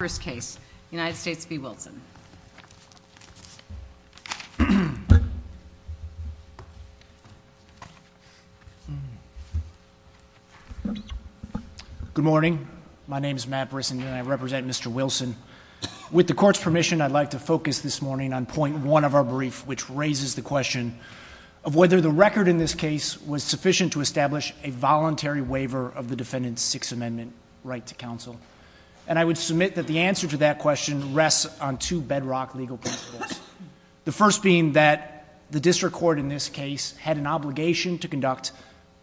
Good morning. My name is Matt Brisson and I represent Mr. Wilson. With the court's permission, I'd like to focus this morning on point one of our brief, which raises the question of whether the record in this case was sufficient to establish a voluntary waiver of the defendant's Sixth Amendment right to counsel. And I would submit that the answer to that question rests on two bedrock legal principles. The first being that the district court in this case had an obligation to conduct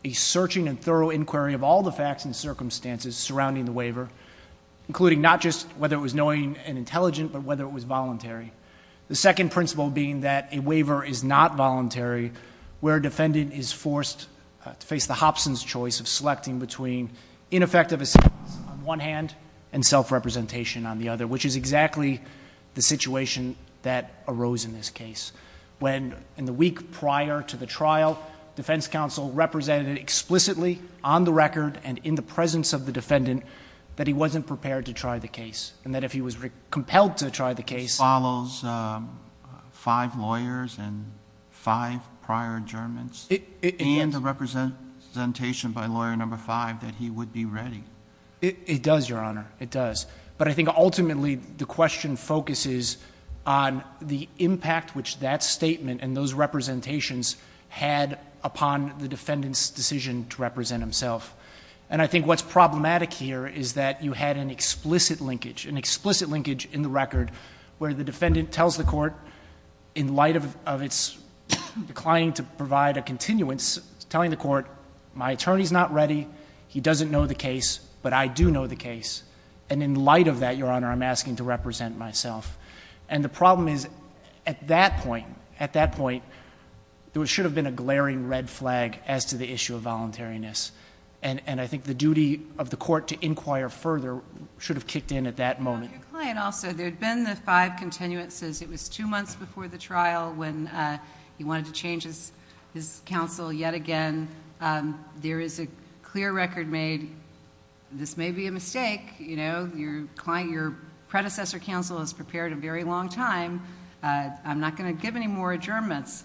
a searching and thorough inquiry of all the facts and circumstances surrounding the waiver, including not just whether it was knowing and intelligent, but whether it was voluntary. The second principle being that a waiver is not voluntary where a defendant is forced to face the Hobson's choice of selecting between ineffective assistance on one hand and self-representation on the other, which is exactly the situation that arose in this case, when in the week prior to the trial, defense counsel represented explicitly on the record and in the presence of the defendant that he wasn't prepared to try the case, and that if he was compelled to try the case... And the representation by Lawyer No. 5, that he would be ready. It does, Your Honor. It does. But I think ultimately the question focuses on the impact which that statement and those representations had upon the defendant's decision to represent himself. And I think what's problematic here is that you had an explicit linkage, an explicit linkage in the record where the defendant tells the court in light of its declining to provide a continuance, telling the court, my attorney's not ready, he doesn't know the case, but I do know the case. And in light of that, Your Honor, I'm asking to represent myself. And the problem is, at that point, at that point, there should have been a glaring red flag as to the issue of voluntariness. And I think the duty of the court to inquire further should have kicked in at that moment. Well, your client also. There had been the five continuances. It was two months before the trial when he wanted to change his counsel yet again. There is a clear record made, this may be a mistake. Your predecessor counsel has prepared a very long time. I'm not going to give any more adjournments.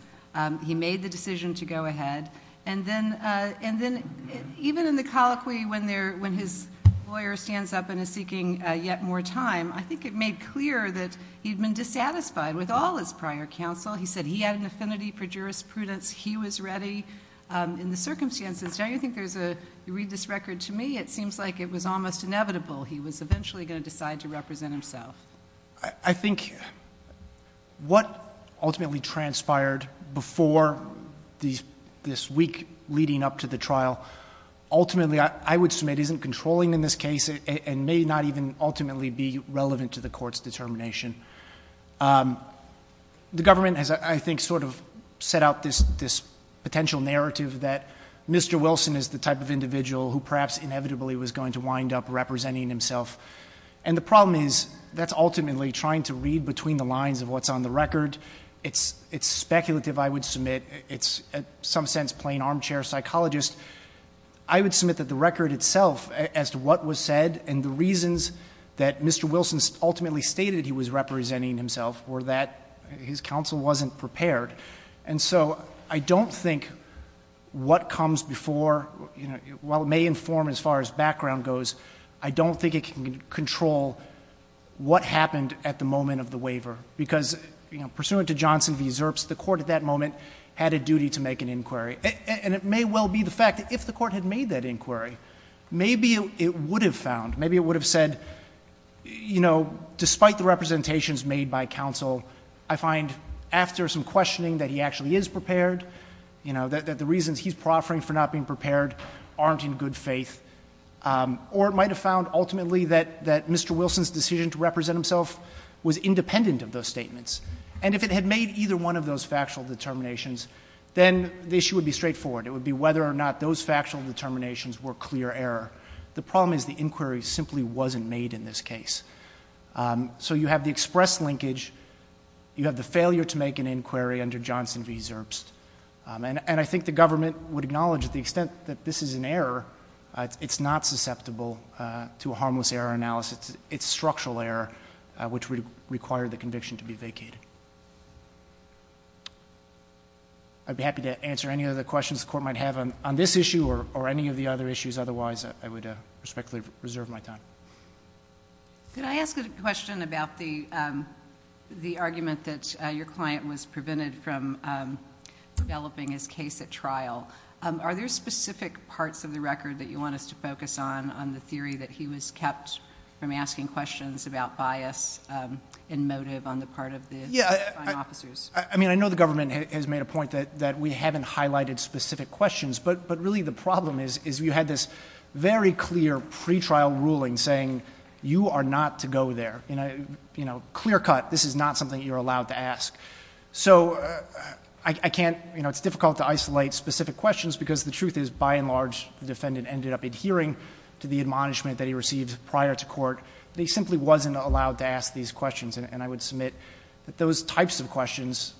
He made the decision to go ahead. And then even in the colloquy when his lawyer stands up and is seeking yet more time, I think it made clear that he had been dissatisfied with all his prior counsel. He said he had an affinity for jurisprudence. He was ready. In the circumstances, don't you think there's a, you read this record to me, it seems like it was almost inevitable he was eventually going to decide to represent himself. I think what ultimately transpired before this week leading up to the trial, ultimately I would assume it isn't controlling in this case and may not even ultimately be relevant to the court's determination. The government has, I think, sort of set out this potential narrative that Mr. Wilson is the type of individual who perhaps inevitably was going to wind up representing himself. And the problem is, that's ultimately trying to read between the lines of what's on the record. It's speculative, I would submit. It's in some sense playing armchair psychologist. I would submit that the record itself as to what was said and the reasons that Mr. Wilson ultimately stated he was representing himself were that his counsel wasn't prepared. And so I don't think what comes before, while it may inform as far as background goes, I don't think it can control what happened at the moment of the waiver. Because, you know, pursuant to Johnson v. Zerps, the court at that moment had a duty to make an inquiry. And it may well be the fact that if the court had made that inquiry, maybe it would have found, maybe it would have said, you know, despite the representations made by counsel, I find after some questioning that he actually is prepared, you know, that the reasons he's proffering for not being prepared aren't in good faith. Or it might have found ultimately that Mr. Wilson's decision to represent himself was independent of those statements. And if it had made either one of those factual determinations, then the issue would be straightforward. It would be whether or not those factual determinations were clear error. The problem is the inquiry simply wasn't made in this case. So you have the express linkage. You have the failure to make an inquiry under Johnson v. Zerps. And I think the government would acknowledge to the extent that this is an error, it's not susceptible to a harmless error analysis. It's structural error, which would require the conviction to be vacated. I'd be happy to answer any other questions the court might have on this issue or any of the other issues. Otherwise, I would respectfully reserve my time. Could I ask a question about the argument that your client was prevented from developing his case at trial? Are there specific parts of the record that you want us to focus on on the theory that he was kept from asking questions about bias and motive on the part of the crime officers? I mean, I know the government has made a point that we haven't highlighted specific questions. But really the problem is you had this very clear pretrial ruling saying you are not to go there. Clear cut, this is not something you're allowed to ask. So I can't, it's difficult to isolate specific questions because the truth is, by and large, the defendant ended up adhering to the admonishment that he received prior to court. He simply wasn't allowed to ask these questions. And I would submit that those types of questions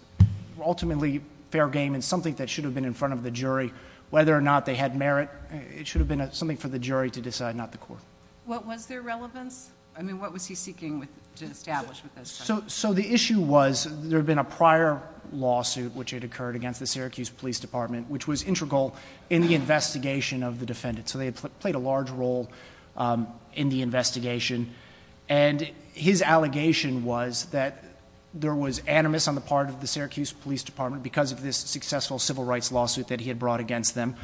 were ultimately fair game and something that should have been in front of the jury. Whether or not they had merit, it should have been something for the jury to decide, not the court. What was their relevance? I mean, what was he seeking to establish with this? So the issue was there had been a prior lawsuit which had occurred against the Syracuse Police Department which was integral in the investigation of the defendant. So they had played a large role in the investigation. And his allegation was that there was animus on the part of the civil rights lawsuit that he had brought against them.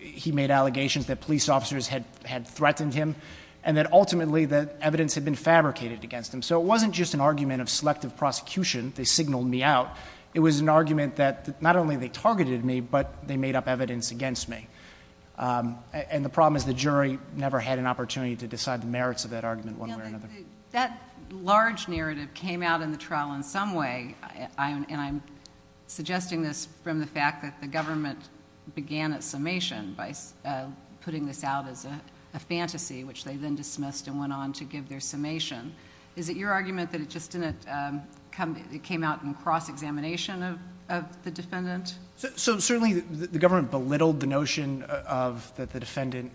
He made allegations that police officers had threatened him and that ultimately the evidence had been fabricated against him. So it wasn't just an argument of selective prosecution. They signaled me out. It was an argument that not only they targeted me, but they made up evidence against me. And the problem is the jury never had an opportunity to decide the merits of that argument one way or another. That large narrative came out in the trial in some way, and I'm suggesting this from the fact that the government began its summation by putting this out as a fantasy, which they then dismissed and went on to give their summation. Is it your argument that it just didn't come out, it came out in cross-examination of the defendant? So certainly the government belittled the notion of that the defendant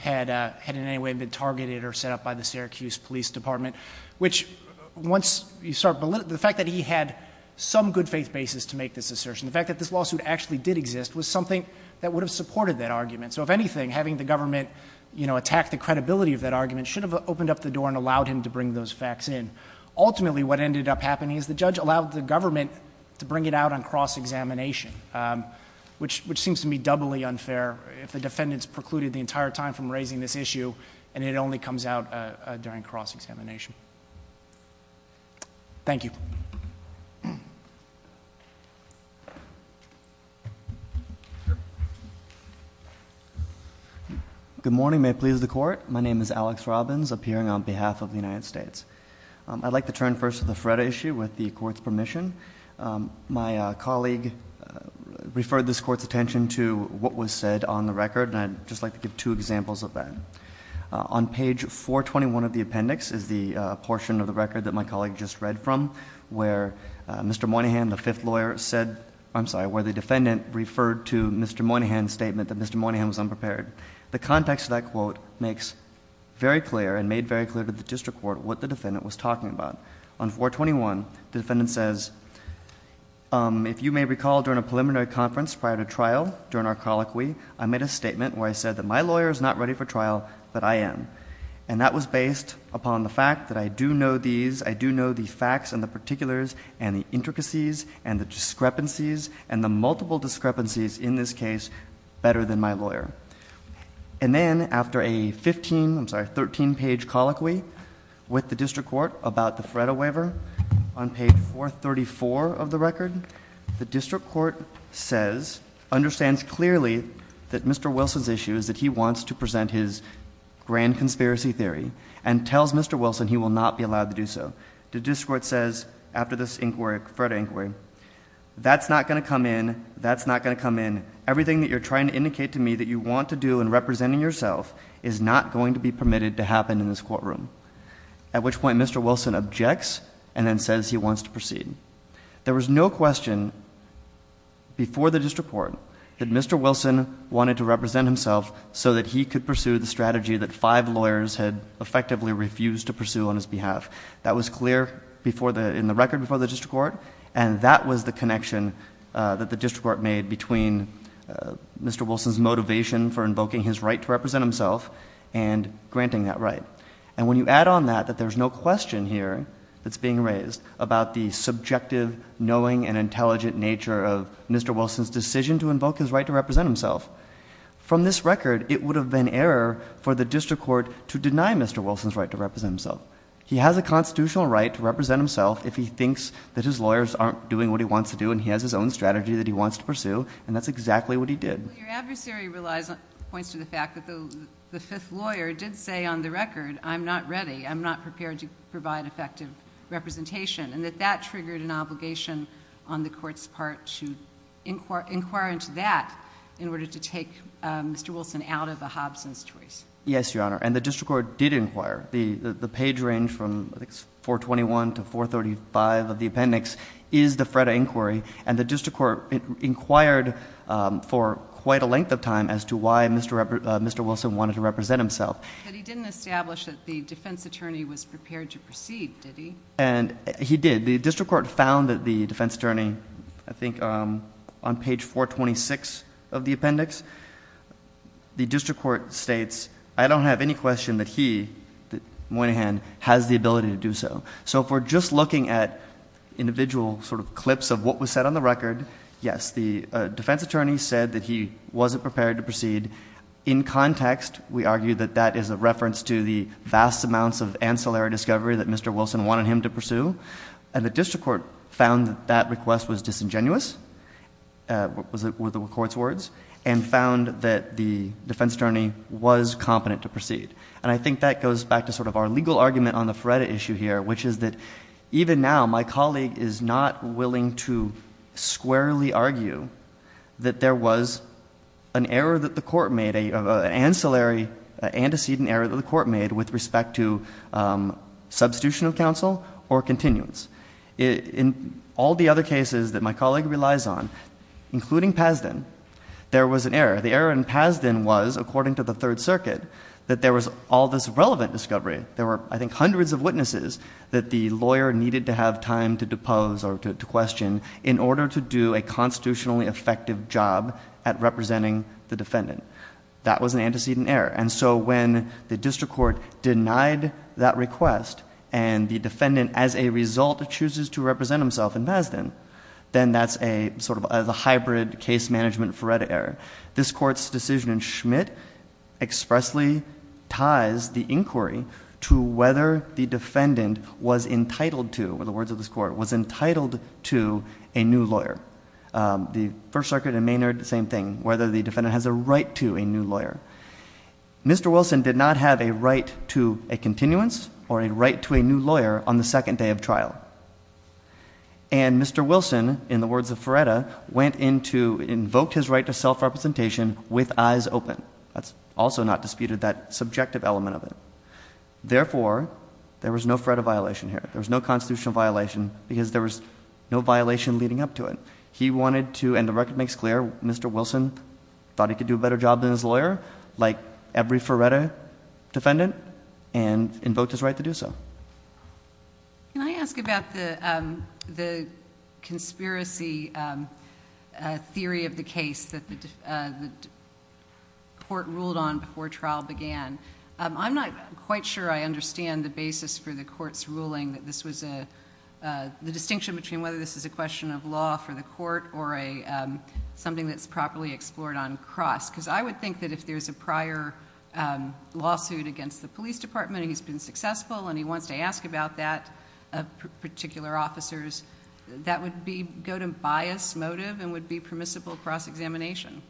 had in any way been targeted or set up by the Syracuse Police Department, which once you start belittling he had some good faith basis to make this assertion. The fact that this lawsuit actually did exist was something that would have supported that argument. So if anything, having the government, you know, attack the credibility of that argument should have opened up the door and allowed him to bring those facts in. Ultimately what ended up happening is the judge allowed the government to bring it out on cross-examination, which seems to me doubly unfair if the defendant's precluded the entire time from raising this issue and it only comes out during cross-examination. Thank you. Good morning. May it please the Court. My name is Alex Robbins, appearing on behalf of the United States. I'd like to turn first to the FREDA issue with the Court's permission. My colleague referred this Court's attention to what was said on the record and I'd just like to give two examples of that. On page 421 of the appendix is the portion of the record that my colleague just read from where Mr. Moynihan, the fifth lawyer, said, I'm sorry, where the defendant referred to Mr. Moynihan's statement that Mr. Moynihan was unprepared. The context of that quote makes very clear and made very clear to the district court what the defendant was talking about. On 421, the defendant says, if you may recall during a preliminary conference prior to trial, during our colloquy, I made a statement where I said that my lawyer is not ready for trial, but I am. And that was based upon the fact that I do know these, I do know the facts and the particulars and the intricacies and the discrepancies and the multiple discrepancies in this case better than my lawyer. And then after a 15, I'm sorry, 13 page colloquy with the district court about the FREDA waiver on page 434 of the record, the district court says, understands clearly that Mr. Wilson's issue is that he wants to present his grand conspiracy theory and tells Mr. Wilson he will not be allowed to do so. The district court says after this inquiry, FREDA inquiry, that's not going to come in, that's not going to come in. Everything that you're trying to indicate to me that you want to do in representing yourself is not going to be permitted to happen in this courtroom. At which point Mr. Wilson objects and then says he wants to proceed. There was no question before the district court that Mr. Wilson wanted to represent himself so that he could pursue the strategy that five lawyers had effectively refused to pursue on his behalf. That was clear in the record before the district court and that was the connection that the district court made between Mr. Wilson's motivation for invoking his right to represent himself and granting that right. And when you add on that, that there's no question here that's being raised about the subjective, knowing and intelligent nature of Mr. Wilson's decision to invoke his right to represent himself. From this record, it would have been error for the district court to deny Mr. Wilson's right to represent himself. He has a constitutional right to represent himself if he thinks that his lawyers aren't doing what he wants to do and he has his own strategy that he wants to pursue and that's exactly what he did. Well, your adversary points to the fact that the fifth lawyer did say on the record, I'm not ready, I'm not prepared to provide effective representation and that that triggered an obligation on the court's part to inquire into that in order to take Mr. Wilson out of a Hobson's choice. Yes, Your Honor, and the district court did inquire. The page range from 421 to 435 of the appendix is the FREDA inquiry and the district court inquired for quite a length of time as to why Mr. Wilson wanted to represent himself. But he didn't establish that the defense attorney was prepared to proceed, did he? And he did. The district court found that the defense attorney, I think on page 426 of the appendix, the district court states, I don't have any question that he, Moynihan, has the ability to do so. So if we're just looking at individual sort of clips of what was said on the record, yes, the defense attorney said that he wasn't prepared to proceed. In context, we argue that that is a reference to the vast amounts of ancillary discovery that Mr. Wilson wanted him to pursue. And the district court found that that request was disingenuous, were the court's words, and found that the defense attorney was competent to proceed. And I think that goes back to sort of our legal argument on the FREDA issue here, which is that even now my colleague is not willing to squarely argue that there was an error that the court made with respect to substitution of counsel or continuance. In all the other cases that my colleague relies on, including Pasden, there was an error. The error in Pasden was, according to the Third Circuit, that there was all this relevant discovery. There were, I think, hundreds of witnesses that the lawyer needed to have time to depose or to question in order to do a constitutionally effective job at representing the defendant. That was an antecedent error. And so when the district court denied that request and the defendant, as a result, chooses to represent himself in Pasden, then that's a sort of a hybrid case management FREDA error. This court's decision in Schmidt expressly ties the inquiry to whether the defendant was entitled to, were the words of this court, was entitled to a new lawyer. The First Circuit and Maynard, same thing, whether the defendant has a right to a new lawyer. Mr. Wilson did not have a right to a continuance or a right to a new lawyer on the second day of trial. And Mr. Wilson, in the words of FREDA, went into, invoked his right to self-representation with eyes open. That's also not disputed, that subjective element of it. Therefore, there was no FREDA violation here. There was no constitutional violation because there was no violation leading up to it. He wanted to, and the record makes clear, Mr. Wilson thought he could do a better job than his lawyer, like every FREDA defendant, and invoked his right to do so. Can I ask about the conspiracy theory of the case that the court ruled on before trial began? I'm not quite sure I understand the basis for the court's ruling that this was a, the distinction between whether this is a question of law for the court or a, something that's properly explored on cross. Because I would think that if there's a prior lawsuit against the police department and he's been successful and he wants to ask about that of particular officers, that would be, go to bias, motive, and would be permissible cross-examination.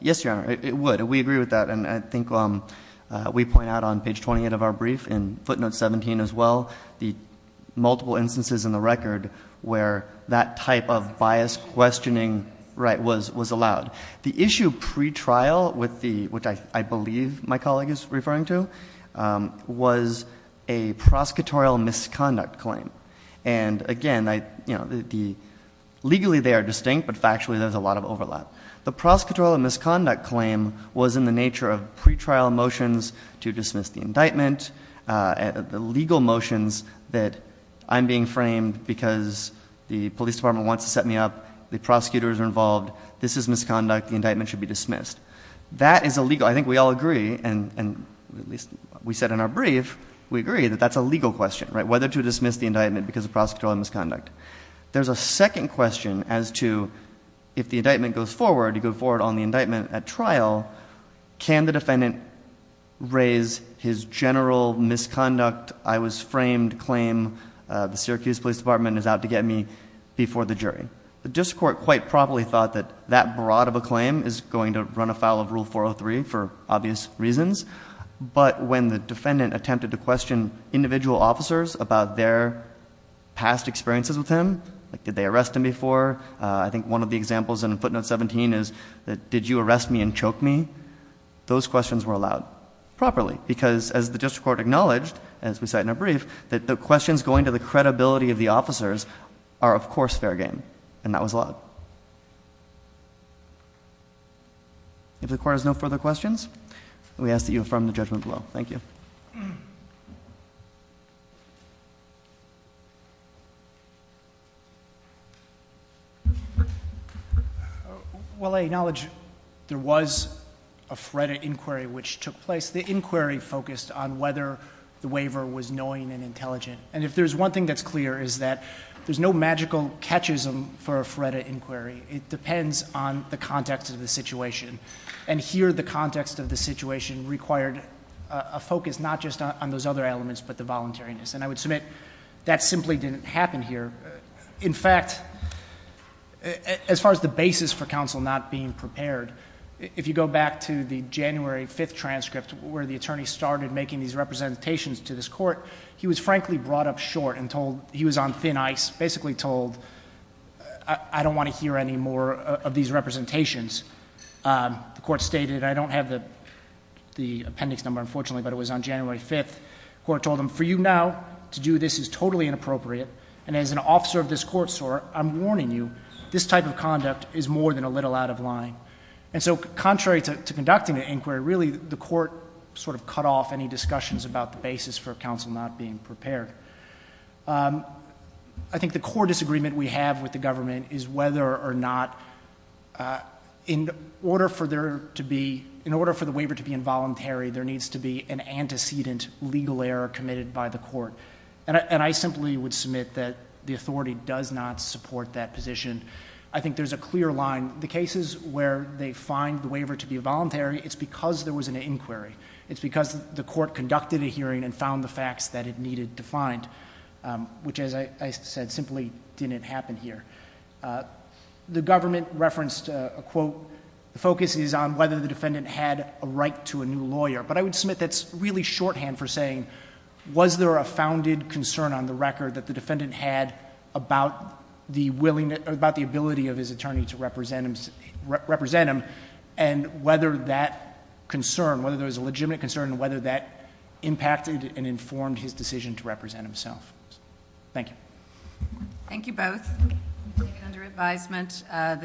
Yes, Your Honor, it would. We agree with that. And I think we point out on page 28 of our brief, in footnote 17 as well, the multiple instances in the record where that type of bias questioning, right, was allowed. The issue pre-trial with the, which I believe my colleague is referring to, was a prosecutorial misconduct claim. And again, I, you know, the, legally they are distinct, but factually there's a lot of overlap. The prosecutorial misconduct claim was in the nature of pre-trial motions to dismiss the indictment, the legal motions that I'm being framed because the police department wants to set me up, the prosecutors are involved, this is misconduct, the indictment should be dismissed. That is a legal, I think we all agree, and at least we said in our brief, we agree that that's a legal question, right, whether to dismiss the indictment because of prosecutorial misconduct. There's a second question as to if the indictment goes forward, you go forward on the indictment at trial, can the defendant raise his general misconduct, I was framed claim, the Syracuse Police Department is out to get me before the jury. The district court quite properly thought that that broad of a claim is going to run afoul of Rule 403 for obvious reasons, but when the defendant attempted to question individual officers about their past experiences with him, like did they arrest him before, I think one of the examples in footnote 17 is did you arrest me and choke me, those questions were allowed properly because as the district court acknowledged, as we said in our brief, that the questions going to the credibility of the officers are of course fair game, and that was allowed. If the court has no further questions, we ask that you affirm the judgment below. Thank you. Well, I acknowledge there was a FREDA inquiry which took place. The inquiry focused on whether the waiver was knowing and intelligent, and if there's one thing that's clear is that there's no magical catchism for a FREDA inquiry. It depends on the context of the situation, and here the context of the situation required a focus not just on those other elements but the voluntariness, and I would submit that simply didn't happen here. In fact, as far as the basis for counsel not being prepared, if you go back to the January 5th transcript where the attorney started making these representations to this court, he was frankly brought up short and told he was on thin ice, basically told I don't want to hear any more of these representations. The court stated I don't have the appendix number unfortunately, but it was on January 5th. The court told him for you now to do this is totally inappropriate, and as an officer of this court, sir, I'm warning you, this type of conduct is more than a little out of line, and so contrary to conducting the inquiry, really the court sort of cut off any discussions about the basis for counsel not being prepared. I think the core disagreement we have with the government is whether or not in order for there to be, in order for the waiver to be an antecedent legal error committed by the court, and I simply would submit that the authority does not support that position. I think there's a clear line. The cases where they find the waiver to be voluntary, it's because there was an inquiry. It's because the court conducted a hearing and found the facts that it needed to find, which as I said simply didn't happen here. The government referenced a quote, the focus is on whether the defendant had a right to a new lawyer, but I would really shorthand for saying was there a founded concern on the record that the defendant had about the ability of his attorney to represent him, and whether that concern, whether there was a legitimate concern, and whether that impacted and informed his decision to represent himself. Thank you. Thank you both.